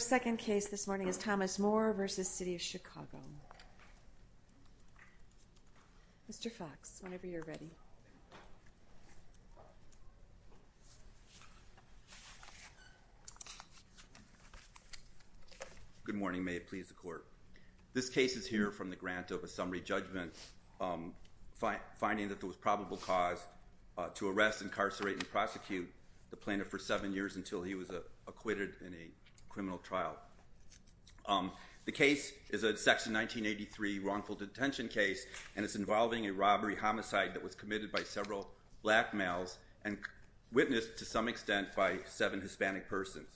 Good morning, may it please the Court. This case is here from the grant of a summary judgment finding that there was probable cause to arrest, incarcerate and prosecute the plaintiff for seven years until he was acquitted in a criminal trial. The case is a section 1983 wrongful detention case and it's involving a robbery homicide that was committed by several black males and witnessed to some extent by seven Hispanic persons.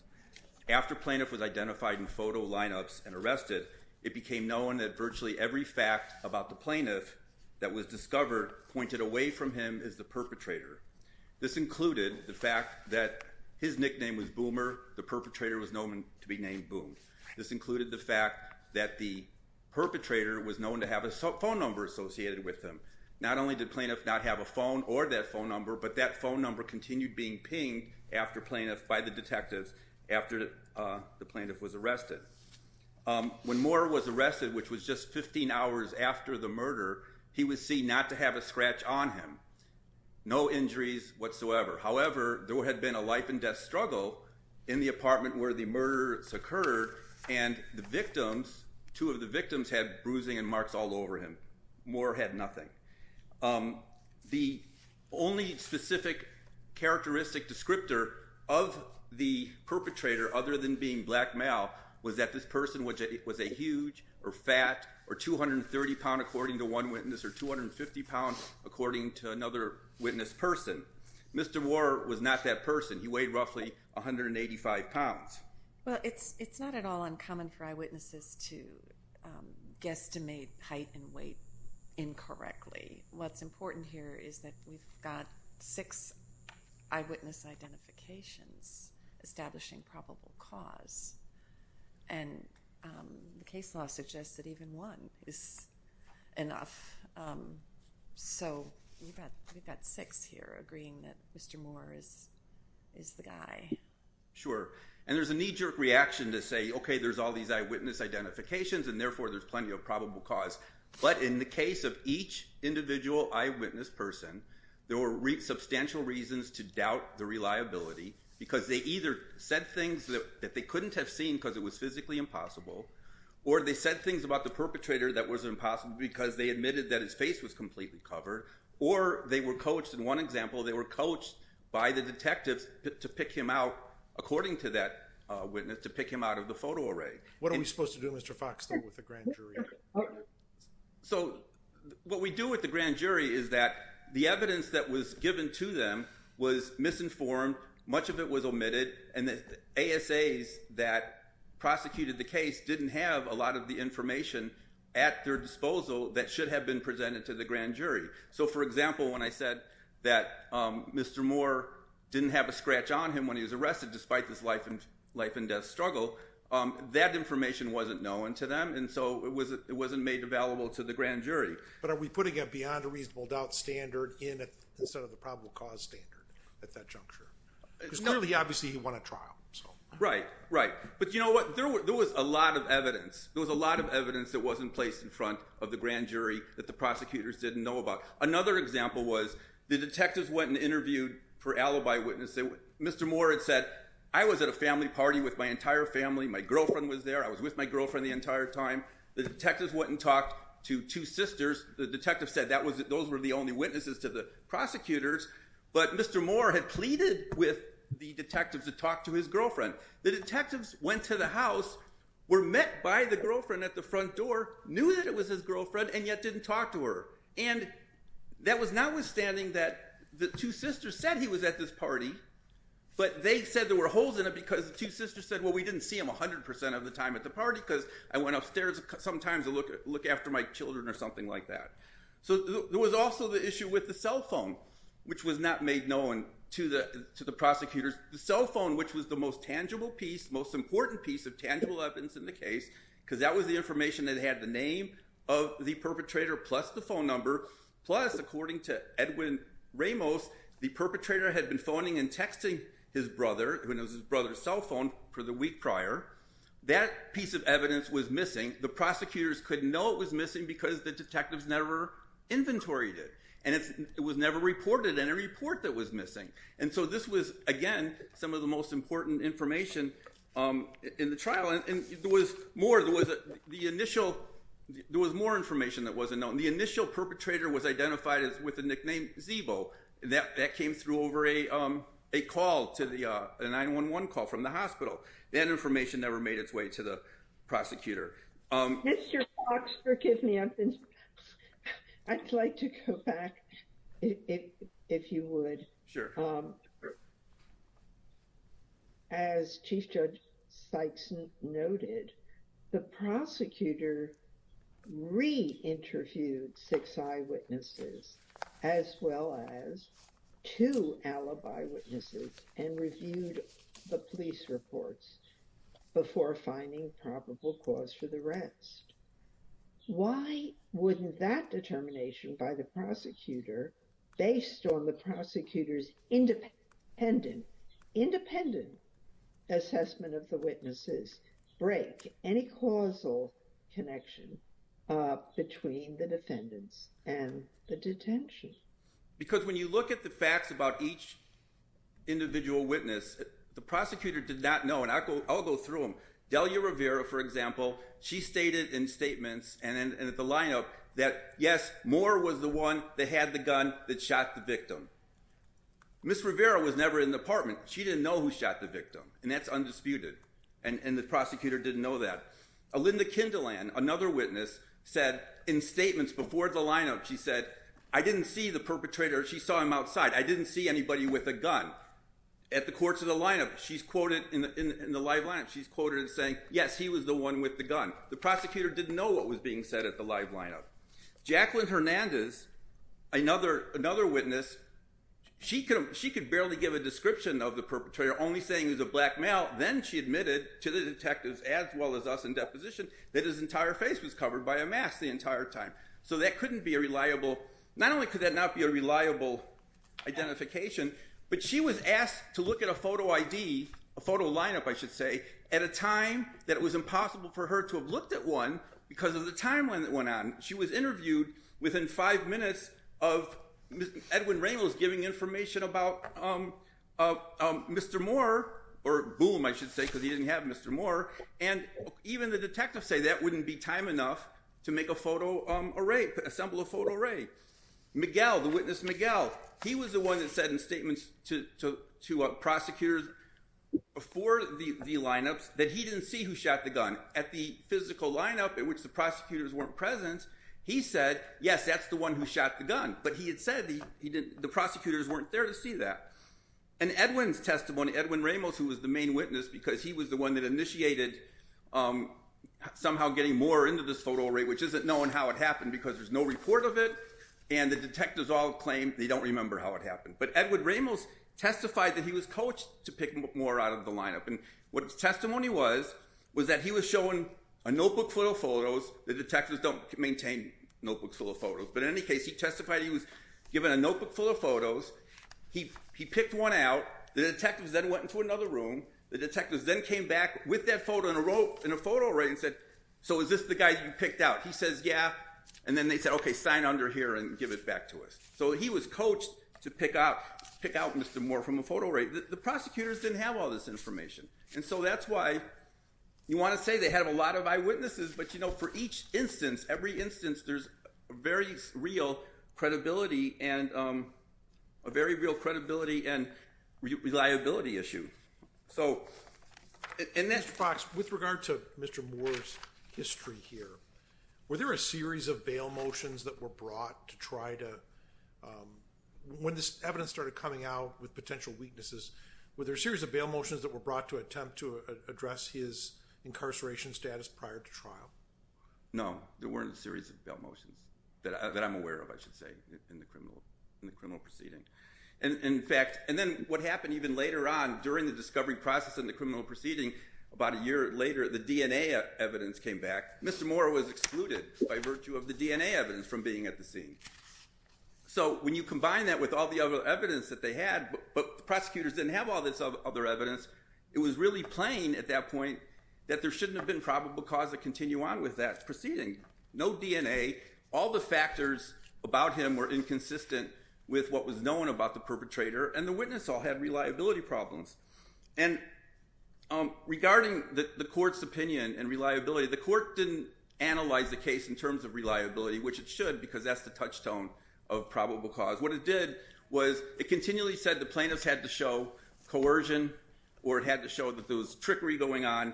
After plaintiff was identified in photo lineups and arrested, it became known that virtually every fact about the plaintiff that was discovered pointed away from him as the perpetrator. This included the fact that his nickname was Boomer, the perpetrator was known to be named Boom. This included the fact that the perpetrator was known to have a phone number associated with him. Not only did plaintiff not have a phone or that phone number, but that phone number continued being pinged by the detectives after the plaintiff was arrested. When Moorer was arrested, which was just 15 hours after the murder, he was seen not to have a scratch on him. No injuries whatsoever. However, there had been a life and death struggle in the apartment where the murders occurred and the victims, two of the victims had bruising and marks all over him. Moorer had nothing. The only specific characteristic descriptor of the perpetrator other than being black male was that this person was a huge or fat or 230 pound according to one witness or 250 pound according to another witness person. Mr. Moorer was not that person. He weighed roughly 185 pounds. Well, it's not at all uncommon for eyewitnesses to guesstimate height and weight incorrectly. What's important here is that we've got six eyewitness identifications establishing probable cause. And the case law suggests that even one is enough. So we've got six here agreeing that Mr. Moorer is the guy. Sure. And there's a knee jerk reaction to say, OK, there's all these eyewitness identifications and therefore there's plenty of probable cause. But in the case of each individual eyewitness person, there were substantial reasons to doubt the reliability because they either said things that they couldn't have seen because it was physically impossible or they said things about the perpetrator that was impossible because they admitted that his face was completely covered or they were coached. In one example, they were coached by the detectives to pick him out, according to that witness, to pick him out of the photo array. What are we supposed to do, Mr. Fox, though, with the grand jury? So what we do with the grand jury is that the evidence that was given to them was misinformed. Much of it was omitted. And the ASAs that prosecuted the case didn't have a lot of the information at their disposal that should have been presented to the grand jury. So, for example, when I said that Mr. Moore didn't have a scratch on him when he was arrested despite this life and death struggle, that information wasn't known to them and so it wasn't made available to the grand jury. But are we putting a beyond a reasonable doubt standard in instead of the probable cause standard at that juncture? Because clearly, obviously, he won a trial. Right, right. But you know what? There was a lot of evidence. There was a lot of evidence that wasn't placed in front of the grand jury that the prosecutors didn't know about. Another example was the detectives went and interviewed for alibi witnesses. Mr. Moore had said, I was at a family party with my entire family. My girlfriend was there. I was with my girlfriend the entire time. The detectives went and talked to two sisters. The detectives said those were the only witnesses to the prosecutors. But Mr. Moore had pleaded with the detectives to talk to his girlfriend. The detectives went to the house, were met by the girlfriend at the front door, knew that it was his girlfriend and yet didn't talk to her. And that was notwithstanding that the two sisters said he was at this party but they said there were holes in it because the two sisters said, well, we didn't see him 100% of the time at the party because I went upstairs sometimes to look after my children or something like that. So there was also the issue with the cell phone, which was not made known to the prosecutors. The cell phone, which was the most tangible piece, most important piece of tangible evidence in the case because that was the information that had the name of the perpetrator plus the phone number. Plus, according to Edwin Ramos, the perpetrator had been phoning and texting his brother when it was his brother's cell phone for the week prior. That piece of evidence was missing. And the prosecutors couldn't know it was missing because the detectives never inventoried it. And it was never reported in a report that was missing. And so this was, again, some of the most important information in the trial. And there was more. There was the initial – there was more information that wasn't known. The initial perpetrator was identified with the nickname Zeebo. That came through over a call to the – a 911 call from the hospital. That information never made its way to the prosecutor. Mr. Fox, forgive me. I'd like to go back, if you would. Sure. As Chief Judge Sykes noted, the prosecutor re-interviewed six eyewitnesses as well as two alibi witnesses and reviewed the police reports before finding probable cause for the rest. Why wouldn't that determination by the prosecutor, based on the prosecutor's independent assessment of the witnesses, break any causal connection between the defendants and the detention? Because when you look at the facts about each individual witness, the prosecutor did not know. And I'll go through them. Delia Rivera, for example, she stated in statements and at the lineup that, yes, Moore was the one that had the gun that shot the victim. Ms. Rivera was never in the apartment. She didn't know who shot the victim. And that's undisputed. And the prosecutor didn't know that. Alinda Kindeland, another witness, said in statements before the lineup, she said, I didn't see the perpetrator. I didn't see anybody with a gun. At the courts of the lineup, she's quoted in the live lineup, she's quoted as saying, yes, he was the one with the gun. The prosecutor didn't know what was being said at the live lineup. Jacqueline Hernandez, another witness, she could barely give a description of the perpetrator, only saying he was a black male. Then she admitted to the detectives, as well as us in deposition, that his entire face was covered by a mask the entire time. So that couldn't be a reliable, not only could that not be a reliable identification, but she was asked to look at a photo ID, a photo lineup, I should say, at a time that it was impossible for her to have looked at one because of the timeline that went on. She was interviewed within five minutes of Edwin Ramos giving information about Mr. Moore, or Boom, I should say, because he didn't have Mr. Moore. And even the detectives say that wouldn't be time enough to make a photo array, assemble a photo array. Miguel, the witness Miguel, he was the one that said in statements to prosecutors before the lineups that he didn't see who shot the gun. At the physical lineup, in which the prosecutors weren't present, he said, yes, that's the one who shot the gun. But he had said the prosecutors weren't there to see that. And Edwin's testimony, Edwin Ramos, who was the main witness because he was the one that initiated somehow getting Moore into this photo array, which isn't known how it happened because there's no report of it. And the detectives all claim they don't remember how it happened. But Edward Ramos testified that he was coached to pick Moore out of the lineup. And what his testimony was, was that he was shown a notebook full of photos. The detectives don't maintain notebooks full of photos. But in any case, he testified he was given a notebook full of photos. He picked one out. The detectives then went into another room. The detectives then came back with that photo in a photo array and said, so is this the guy you picked out? He says, yeah. And then they said, OK, sign under here and give it back to us. So he was coached to pick out Mr. Moore from a photo array. The prosecutors didn't have all this information. And so that's why you want to say they have a lot of eyewitnesses. But for each instance, every instance, there's a very real credibility and reliability issue. Mr. Fox, with regard to Mr. Moore's history here, were there a series of bail motions that were brought to try to when this evidence started coming out with potential weaknesses, were there a series of bail motions that were brought to attempt to address his incarceration status prior to trial? No, there weren't a series of bail motions that I'm aware of, I should say, in the criminal proceeding. And in fact, and then what happened even later on during the discovery process in the criminal proceeding, about a year later, the DNA evidence came back. Mr. Moore was excluded by virtue of the DNA evidence from being at the scene. So when you combine that with all the other evidence that they had, but the prosecutors didn't have all this other evidence, it was really plain at that point that there shouldn't have been probable cause to continue on with that proceeding. No DNA, all the factors about him were inconsistent with what was known about the perpetrator, and the witness all had reliability problems. And regarding the court's opinion and reliability, the court didn't analyze the case in terms of reliability, which it should because that's the touchstone of probable cause. What it did was it continually said the plaintiffs had to show coercion or it had to show that there was trickery going on,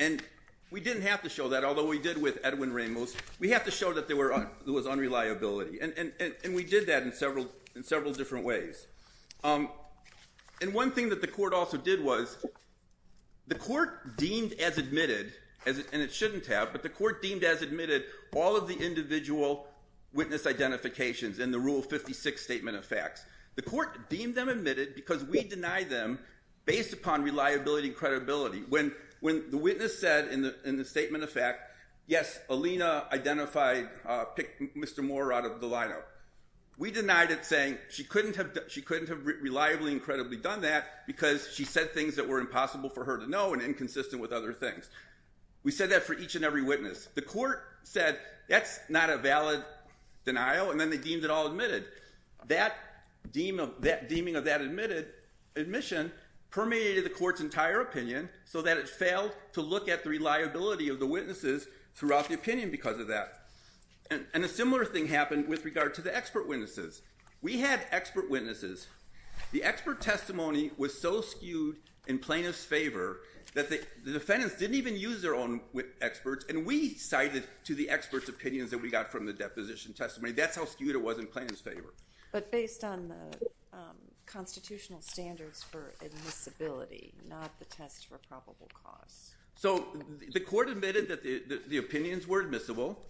and we didn't have to show that, although we did with Edwin Ramos. We have to show that there was unreliability, and we did that in several different ways. And one thing that the court also did was the court deemed as admitted, and it shouldn't have, but the court deemed as admitted all of the individual witness identifications in the Rule 56 Statement of Facts. The court deemed them admitted because we denied them based upon reliability and credibility. When the witness said in the Statement of Facts, yes, Alina identified Mr. Moore out of the lineup, we denied it saying she couldn't have reliably and credibly done that because she said things that were impossible for her to know and inconsistent with other things. We said that for each and every witness. The court said that's not a valid denial, and then they deemed it all admitted. That deeming of that admission permeated the court's entire opinion so that it failed to look at the reliability of the witnesses throughout the opinion because of that. And a similar thing happened with regard to the expert witnesses. We had expert witnesses. The expert testimony was so skewed in plaintiff's favor that the defendants didn't even use their own experts, and we cited to the experts' opinions that we got from the deposition testimony. That's how skewed it was in plaintiff's favor. But based on the constitutional standards for admissibility, not the test for probable cause. So the court admitted that the opinions were admissible,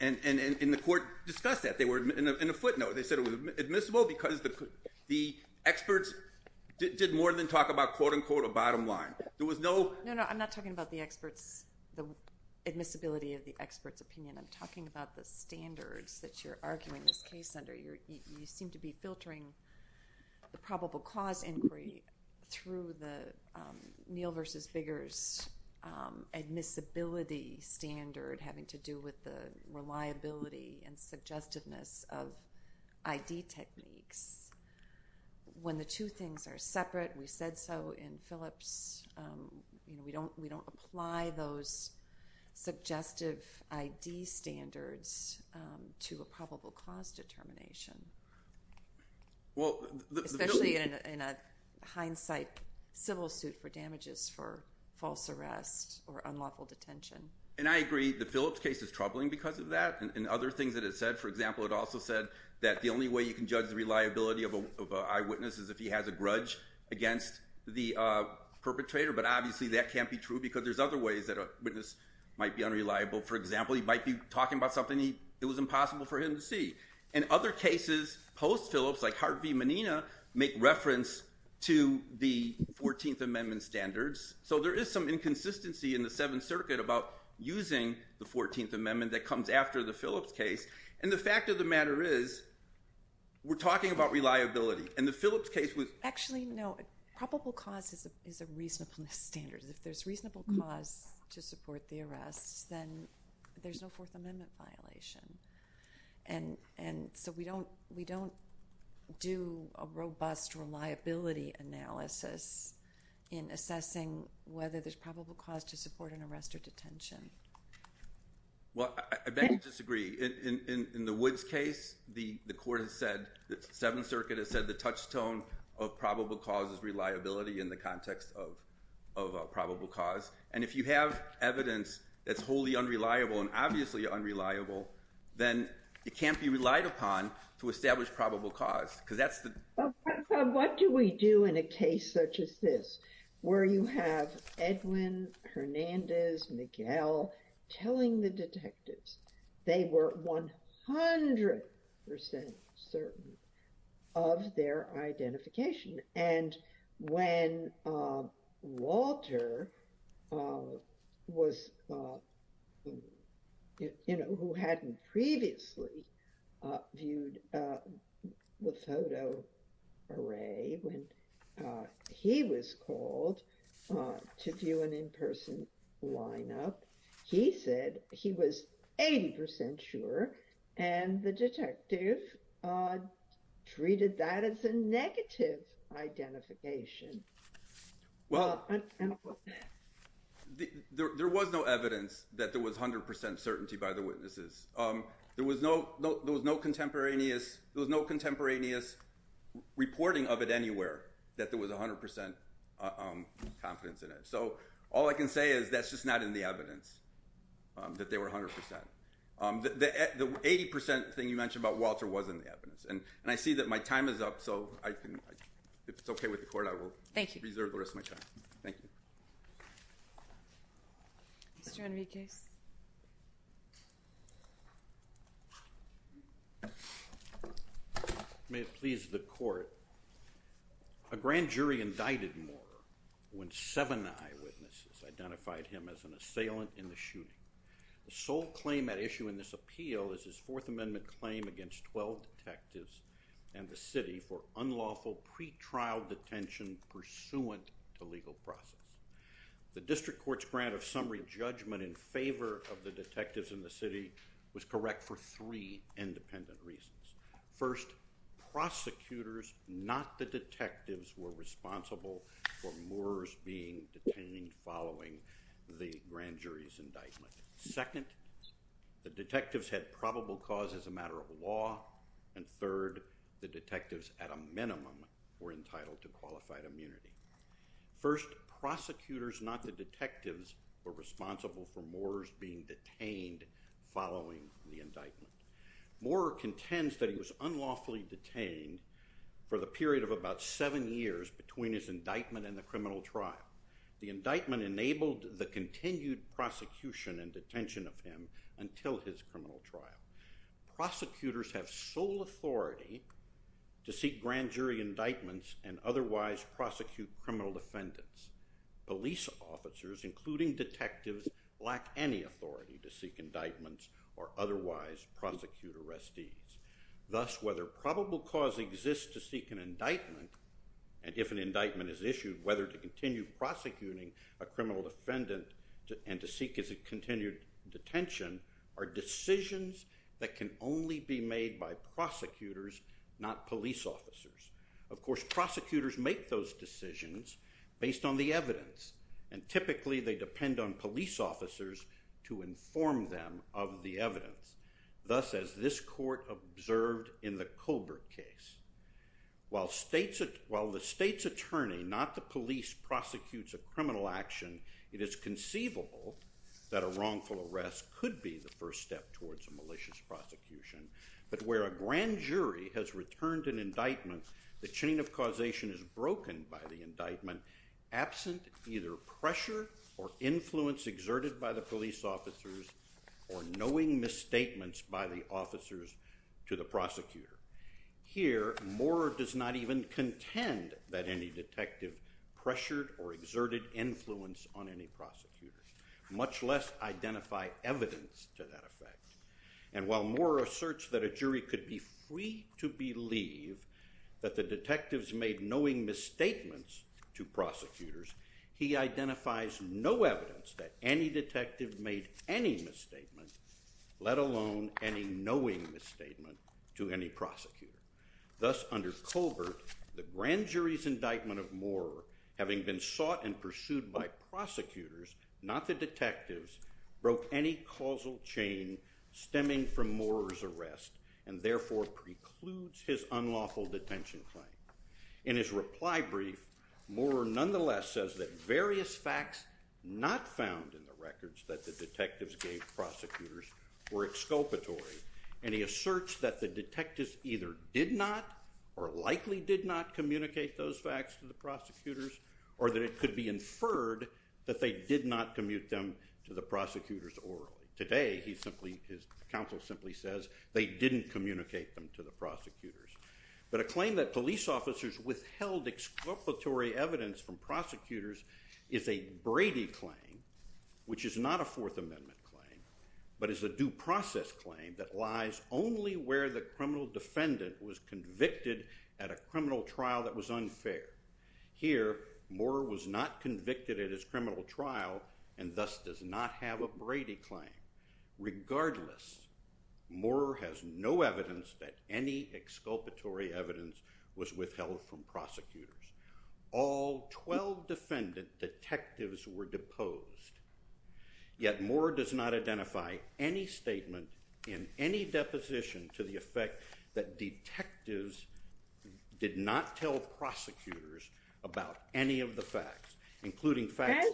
and the court discussed that. They were in a footnote. They said it was admissible because the experts did more than talk about, quote-unquote, a bottom line. There was no— No, no, I'm not talking about the experts, the admissibility of the experts' opinion. I'm talking about the standards that you're arguing this case under. You seem to be filtering the probable cause inquiry through the Neal v. Biggers admissibility standard having to do with the reliability and suggestiveness of ID techniques. When the two things are separate, we said so in Phillips, we don't apply those suggestive ID standards to a probable cause determination. Especially in a hindsight civil suit for damages for false arrest or unlawful detention. And I agree. The Phillips case is troubling because of that, and other things that it said. For example, it also said that the only way you can judge the reliability of an eyewitness is if he has a grudge against the perpetrator. But obviously that can't be true because there's other ways that a witness might be unreliable. For example, he might be talking about something that was impossible for him to see. And other cases post-Phillips, like Hart v. Menina, make reference to the 14th Amendment standards. So there is some inconsistency in the Seventh Circuit about using the 14th Amendment that comes after the Phillips case. And the fact of the matter is we're talking about reliability. And the Phillips case was— Actually, no. Probable cause is a reasonableness standard. If there's reasonable cause to support the arrests, then there's no Fourth Amendment violation. And so we don't do a robust reliability analysis in assessing whether there's probable cause to support an arrest or detention. Well, I beg to disagree. In the Woods case, the court has said—the Seventh Circuit has said the touchstone of probable cause is reliability in the context of probable cause. And if you have evidence that's wholly unreliable and obviously unreliable, then it can't be relied upon to establish probable cause. What do we do in a case such as this, where you have Edwin, Hernandez, Miguel telling the detectives they were 100% certain of their identification? And when Walter was—you know, who hadn't previously viewed the photo array, when he was called to view an in-person lineup, he said he was 80% sure, and the detective treated that as a negative identification. Well, there was no evidence that there was 100% certainty by the witnesses. There was no contemporaneous reporting of it anywhere that there was 100% confidence in it. So all I can say is that's just not in the evidence, that they were 100%. The 80% thing you mentioned about Walter wasn't in the evidence. And I see that my time is up, so if it's okay with the Court, I will reserve the rest of my time. Thank you. Mr. Enriquez. May it please the Court. A grand jury indicted Moorer when seven eyewitnesses identified him as an assailant in the shooting. The sole claim at issue in this appeal is his Fourth Amendment claim against 12 detectives and the city for unlawful pretrial detention pursuant to legal process. The district court's grant of summary judgment in favor of the detectives and the city was correct for three independent reasons. First, prosecutors, not the detectives, were responsible for Moorer's being detained following the grand jury's indictment. Second, the detectives had probable cause as a matter of law. And third, the detectives, at a minimum, were entitled to qualified immunity. First, prosecutors, not the detectives, were responsible for Moorer's being detained following the indictment. Moorer contends that he was unlawfully detained for the period of about seven years between his indictment and the criminal trial. The indictment enabled the continued prosecution and detention of him until his criminal trial. Prosecutors have sole authority to seek grand jury indictments and otherwise prosecute criminal defendants. Police officers, including detectives, lack any authority to seek indictments or otherwise prosecute arrestees. Thus, whether probable cause exists to seek an indictment, and if an indictment is issued, whether to continue prosecuting a criminal defendant and to seek his continued detention are decisions that can only be made by prosecutors, not police officers. Of course, prosecutors make those decisions based on the evidence, and typically they depend on police officers to inform them of the evidence. Thus, as this court observed in the Colbert case, while the state's attorney, not the police, prosecutes a criminal action, it is conceivable that a wrongful arrest could be the first step towards a malicious prosecution, but where a grand jury has returned an indictment, the chain of causation is broken by the indictment absent either pressure or influence exerted by the police officers or knowing misstatements by the officers to the prosecutor. Here, Moore does not even contend that any detective pressured or exerted influence on any prosecutor, much less identify evidence to that effect. And while Moore asserts that a jury could be free to believe that the detectives made knowing misstatements to prosecutors, he identifies no evidence that any detective made any misstatement, let alone any knowing misstatement, to any prosecutor. Thus, under Colbert, the grand jury's indictment of Moore, having been sought and pursued by prosecutors, not the detectives, broke any causal chain stemming from Moore's arrest and therefore precludes his unlawful detention claim. In his reply brief, Moore nonetheless says that various facts not found in the records that the detectives gave prosecutors were exculpatory, and he asserts that the detectives either did not or likely did not communicate those facts to the prosecutors or that it could be inferred that they did not commute them to the prosecutors orally. Today, his counsel simply says they didn't communicate them to the prosecutors. But a claim that police officers withheld exculpatory evidence from prosecutors is a Brady claim, which is not a Fourth Amendment claim but is a due process claim that lies only where the criminal defendant was convicted at a criminal trial that was unfair. Here, Moore was not convicted at his criminal trial and thus does not have a Brady claim. Regardless, Moore has no evidence that any exculpatory evidence was withheld from prosecutors. All 12 defendant detectives were deposed, yet Moore does not identify any statement in any deposition to the effect that detectives did not tell prosecutors about any of the facts, including facts-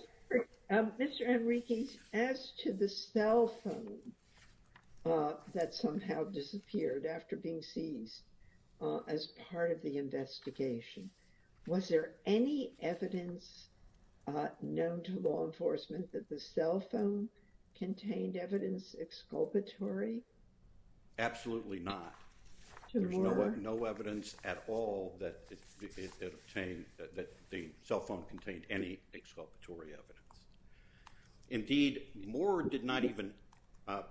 Was there any evidence known to law enforcement that the cell phone contained evidence exculpatory? Absolutely not. There's no evidence at all that the cell phone contained any exculpatory evidence. Indeed, Moore did not even-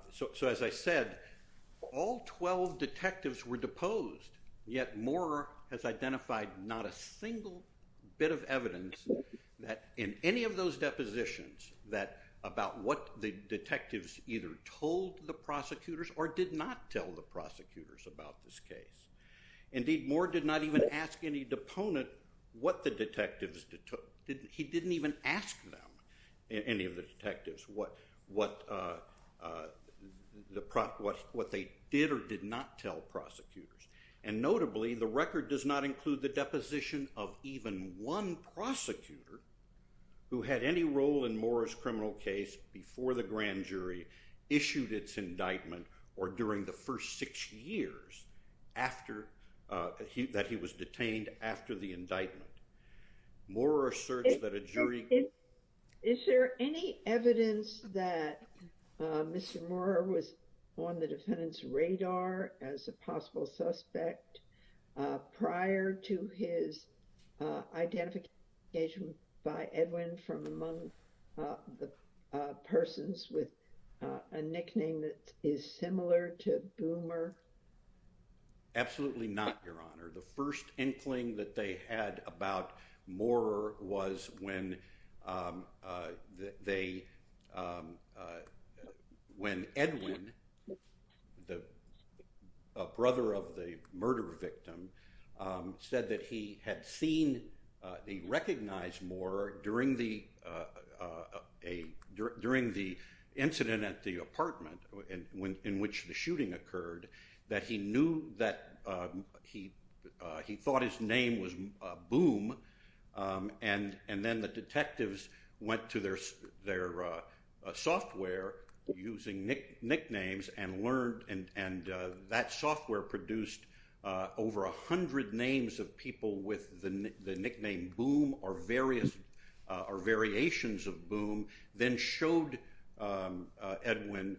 So as I said, all 12 detectives were deposed, yet Moore has identified not a single bit of evidence in any of those depositions about what the detectives either told the prosecutors or did not tell the prosecutors about this case. Indeed, Moore did not even ask any deponent what the detectives- He didn't even ask them, any of the detectives, what they did or did not tell prosecutors. And notably, the record does not include the deposition of even one prosecutor who had any role in Moore's criminal case before the grand jury issued its indictment or during the first six years that he was detained after the indictment. Moore asserts that a jury- Is there any evidence that Mr. Moore was on the defendant's radar as a possible suspect prior to his identification by Edwin from among the persons with a nickname that is similar to Boomer? Absolutely not, Your Honor. The first inkling that they had about Moore was when Edwin, the brother of the murder victim, said that he had seen- he recognized Moore during the incident at the apartment in which the shooting occurred that he knew that- he thought his name was Boom, and then the detectives went to their software using nicknames and learned- and that software produced over a hundred names of people with the nickname Boom or variations of Boom, then showed Edwin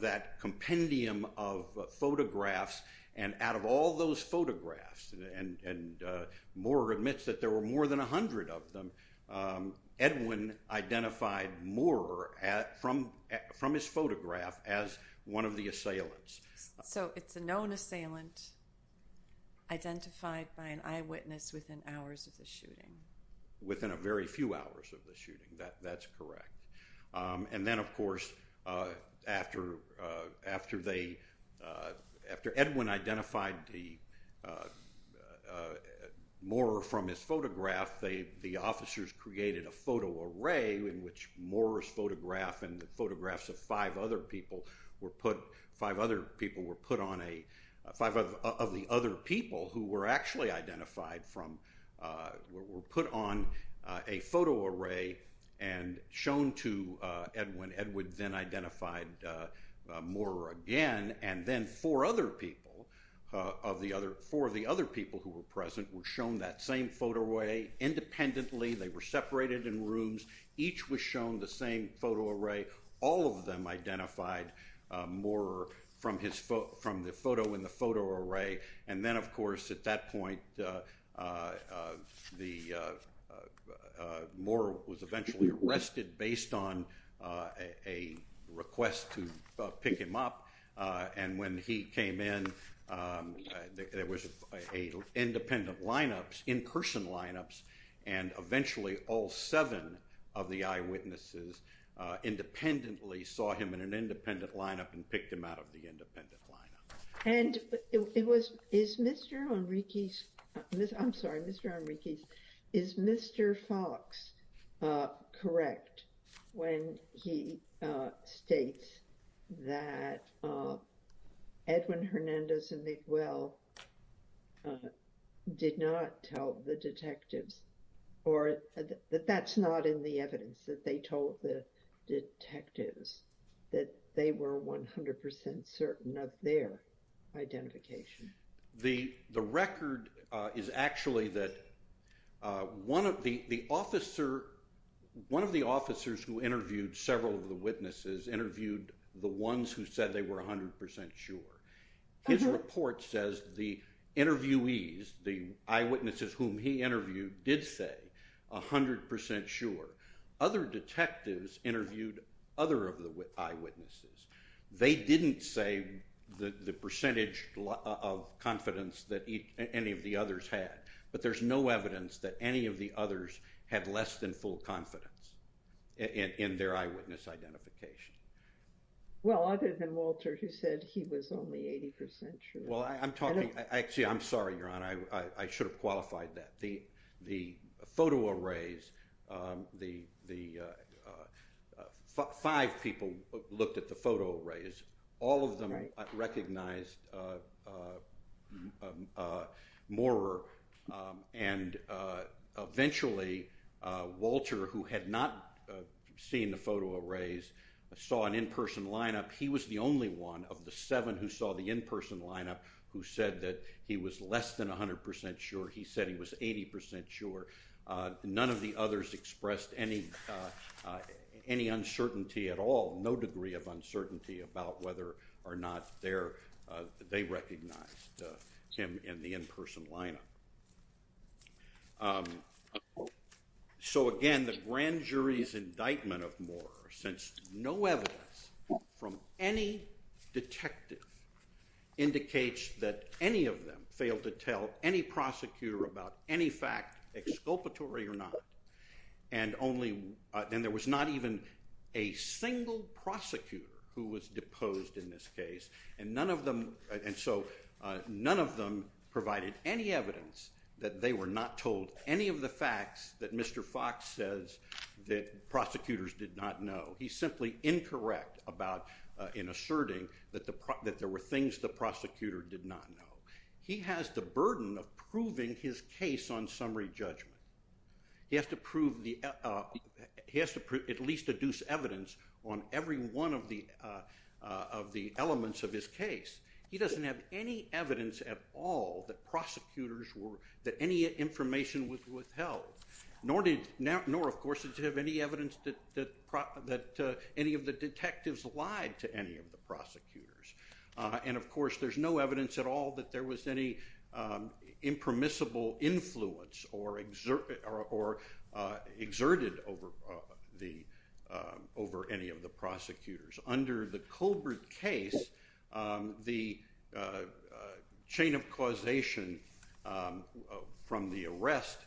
that compendium of photographs, and out of all those photographs, and Moore admits that there were more than a hundred of them, Edwin identified Moore from his photograph as one of the assailants. So it's a known assailant identified by an eyewitness within hours of the shooting. Within a very few hours of the shooting, that's correct. And then, of course, after Edwin identified Moore from his photograph, the officers created a photo array in which Moore's photograph and the photographs of five other people were put- five other people were put on a- five of the other people who were actually identified from- were put on a photo array and shown to Edwin. Edwin then identified Moore again, and then four other people of the other- four of the other people who were present were shown that same photo array independently. They were separated in rooms. Each was shown the same photo array. All of them identified Moore from the photo in the photo array. And then, of course, at that point, the- Moore was eventually arrested based on a request to pick him up, and when he came in, there was a- independent lineups, in-person lineups, and eventually all seven of the eyewitnesses independently saw him in an independent lineup and picked him out of the independent lineup. And it was- is Mr. Enriquez- I'm sorry, Mr. Enriquez. Is Mr. Fox correct when he states that Edwin Hernandez and Miguel did not tell the detectives, or that that's not in the evidence, that they told the detectives, that they were 100% certain of their identification? The record is actually that one of the officer- one of the officers who interviewed several of the witnesses interviewed the ones who said they were 100% sure. His report says the interviewees, the eyewitnesses whom he interviewed, did say 100% sure. Other detectives interviewed other of the eyewitnesses. They didn't say the percentage of confidence that any of the others had, but there's no evidence that any of the others had less than full confidence in their eyewitness identification. Well, other than Walter, who said he was only 80% sure. Well, I'm talking- actually, I'm sorry, Your Honor, I should have qualified that. The photo arrays- five people looked at the photo arrays. All of them recognized Moorer, and eventually Walter, who had not seen the photo arrays, saw an in-person lineup. He was the only one of the seven who saw the in-person lineup who said that he was less than 100% sure. He said he was 80% sure. None of the others expressed any uncertainty at all, no degree of uncertainty about whether or not they recognized him in the in-person lineup. So again, the grand jury's indictment of Moorer, since no evidence from any detective indicates that any of them failed to tell any prosecutor about any fact exculpatory or not, and there was not even a single prosecutor who was deposed in this case, and so none of them provided any evidence that they were not told any of the facts that Mr. Fox says that prosecutors did not know. He's simply incorrect in asserting that there were things the prosecutor did not know. He has the burden of proving his case on summary judgment. He has to at least deduce evidence on every one of the elements of his case. He doesn't have any evidence at all that prosecutors were- that any information was withheld, nor, of course, does he have any evidence that any of the detectives lied to any of the prosecutors, and, of course, there's no evidence at all that there was any impermissible influence or exerted over any of the prosecutors. Under the Colbert case, the chain of causation from the arrest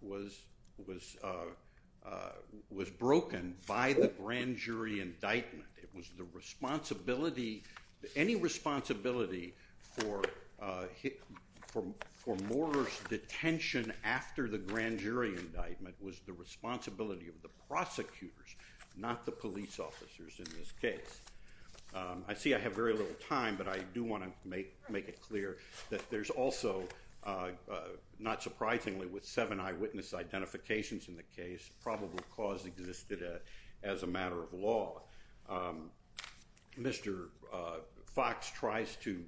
was broken by the grand jury indictment. It was the responsibility- any responsibility for Moorer's detention after the grand jury indictment was the responsibility of the prosecutors, not the police officers in this case. I see I have very little time, but I do want to make it clear that there's also, not surprisingly, with seven eyewitness identifications in the case, probable cause existed as a matter of law. Mr. Fox tries to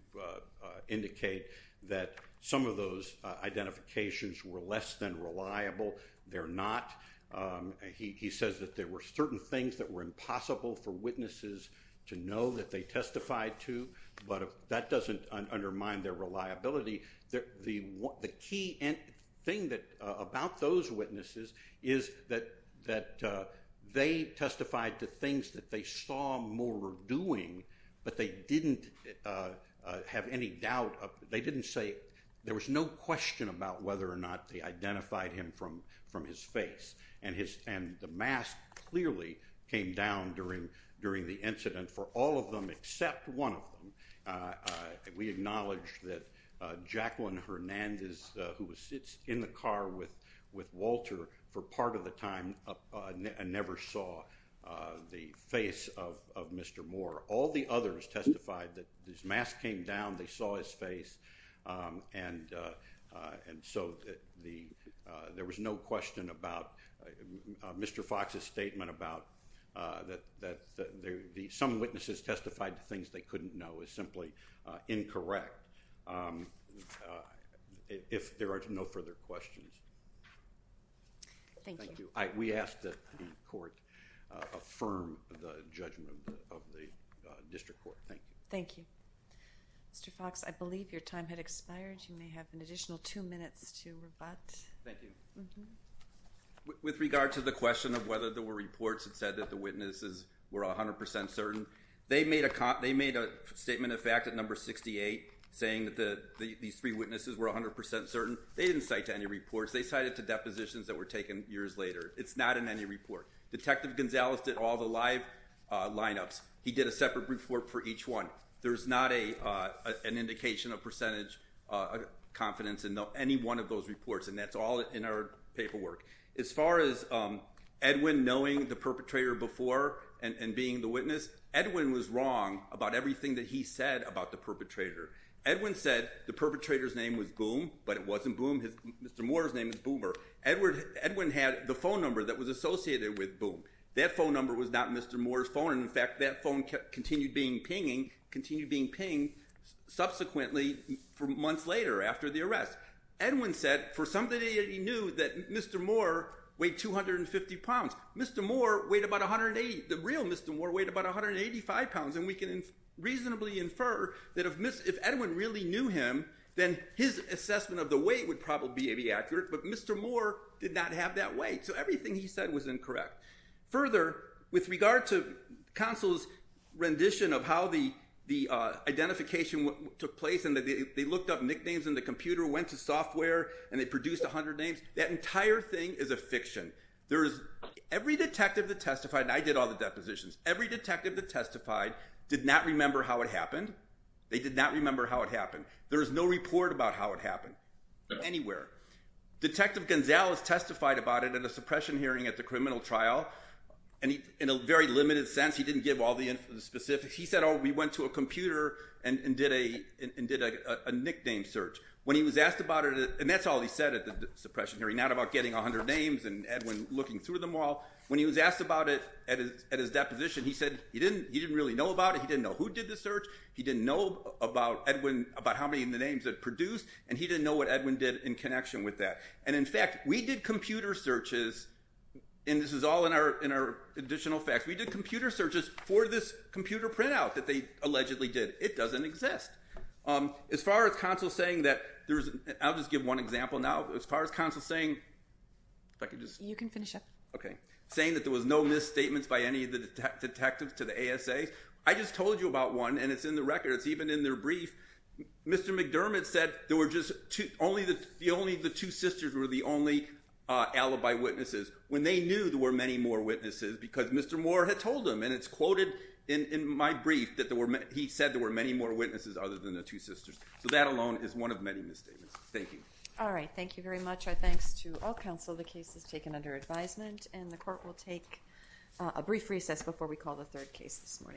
indicate that some of those identifications were less than reliable. They're not. He says that there were certain things that were impossible for witnesses to know that they testified to, but that doesn't undermine their reliability. The key thing about those witnesses is that they testified to things that they saw Moorer doing, but they didn't have any doubt. They didn't say- there was no question about whether or not they identified him from his face, and the mask clearly came down during the incident for all of them except one of them. We acknowledge that Jacqueline Hernandez, who sits in the car with Walter for part of the time, never saw the face of Mr. Moorer. All the others testified that this mask came down, they saw his face, and so there was no question about Mr. Fox's statement about that some witnesses testified to things they couldn't know is simply incorrect if there are no further questions. Thank you. We ask that the court affirm the judgment of the district court. Thank you. Thank you. Mr. Fox, I believe your time had expired. You may have an additional two minutes to rebut. Thank you. With regard to the question of whether there were reports that said that the witnesses were 100% certain, they made a statement of fact at number 68 saying that these three witnesses were 100% certain. They didn't cite to any reports. They cited to depositions that were taken years later. It's not in any report. Detective Gonzalez did all the live lineups. He did a separate report for each one. There's not an indication of percentage confidence in any one of those reports, and that's all in our paperwork. As far as Edwin knowing the perpetrator before and being the witness, Edwin was wrong about everything that he said about the perpetrator. Edwin said the perpetrator's name was Boom, but it wasn't Boom. Mr. Moore's name is Boomer. Edwin had the phone number that was associated with Boom. That phone number was not Mr. Moore's phone, and, in fact, that phone continued being pinged subsequently months later after the arrest. Edwin said for something that he knew that Mr. Moore weighed 250 pounds. Mr. Moore weighed about 180. The real Mr. Moore weighed about 185 pounds, and we can reasonably infer that if Edwin really knew him, then his assessment of the weight would probably be accurate, but Mr. Moore did not have that weight, so everything he said was incorrect. Further, with regard to counsel's rendition of how the identification took place and they looked up nicknames in the computer, went to software, and they produced 100 names, that entire thing is a fiction. Every detective that testified, and I did all the depositions, every detective that testified did not remember how it happened. They did not remember how it happened. There is no report about how it happened anywhere. Detective Gonzalez testified about it in a suppression hearing at the criminal trial, and in a very limited sense. He didn't give all the specifics. He said, oh, we went to a computer and did a nickname search. When he was asked about it, and that's all he said at the suppression hearing, not about getting 100 names and Edwin looking through them all. When he was asked about it at his deposition, he said he didn't really know about it. He didn't know who did the search. He didn't know about Edwin, about how many of the names it produced, and he didn't know what Edwin did in connection with that. And, in fact, we did computer searches, and this is all in our additional facts. We did computer searches for this computer printout that they allegedly did. It doesn't exist. As far as Consul saying that there's – I'll just give one example now. As far as Consul saying – if I could just – You can finish up. Okay. Saying that there was no misstatements by any of the detectives to the ASA. I just told you about one, and it's in the record. It's even in their brief. Mr. McDermott said there were just – only the two sisters were the only alibi witnesses when they knew there were many more witnesses because Mr. Moore had told them, and it's quoted in my brief that he said there were many more witnesses other than the two sisters. So that alone is one of many misstatements. Thank you. All right. Thank you very much. Our thanks to all counsel. The case is taken under advisement, and the court will take a brief recess before we call the third case this morning.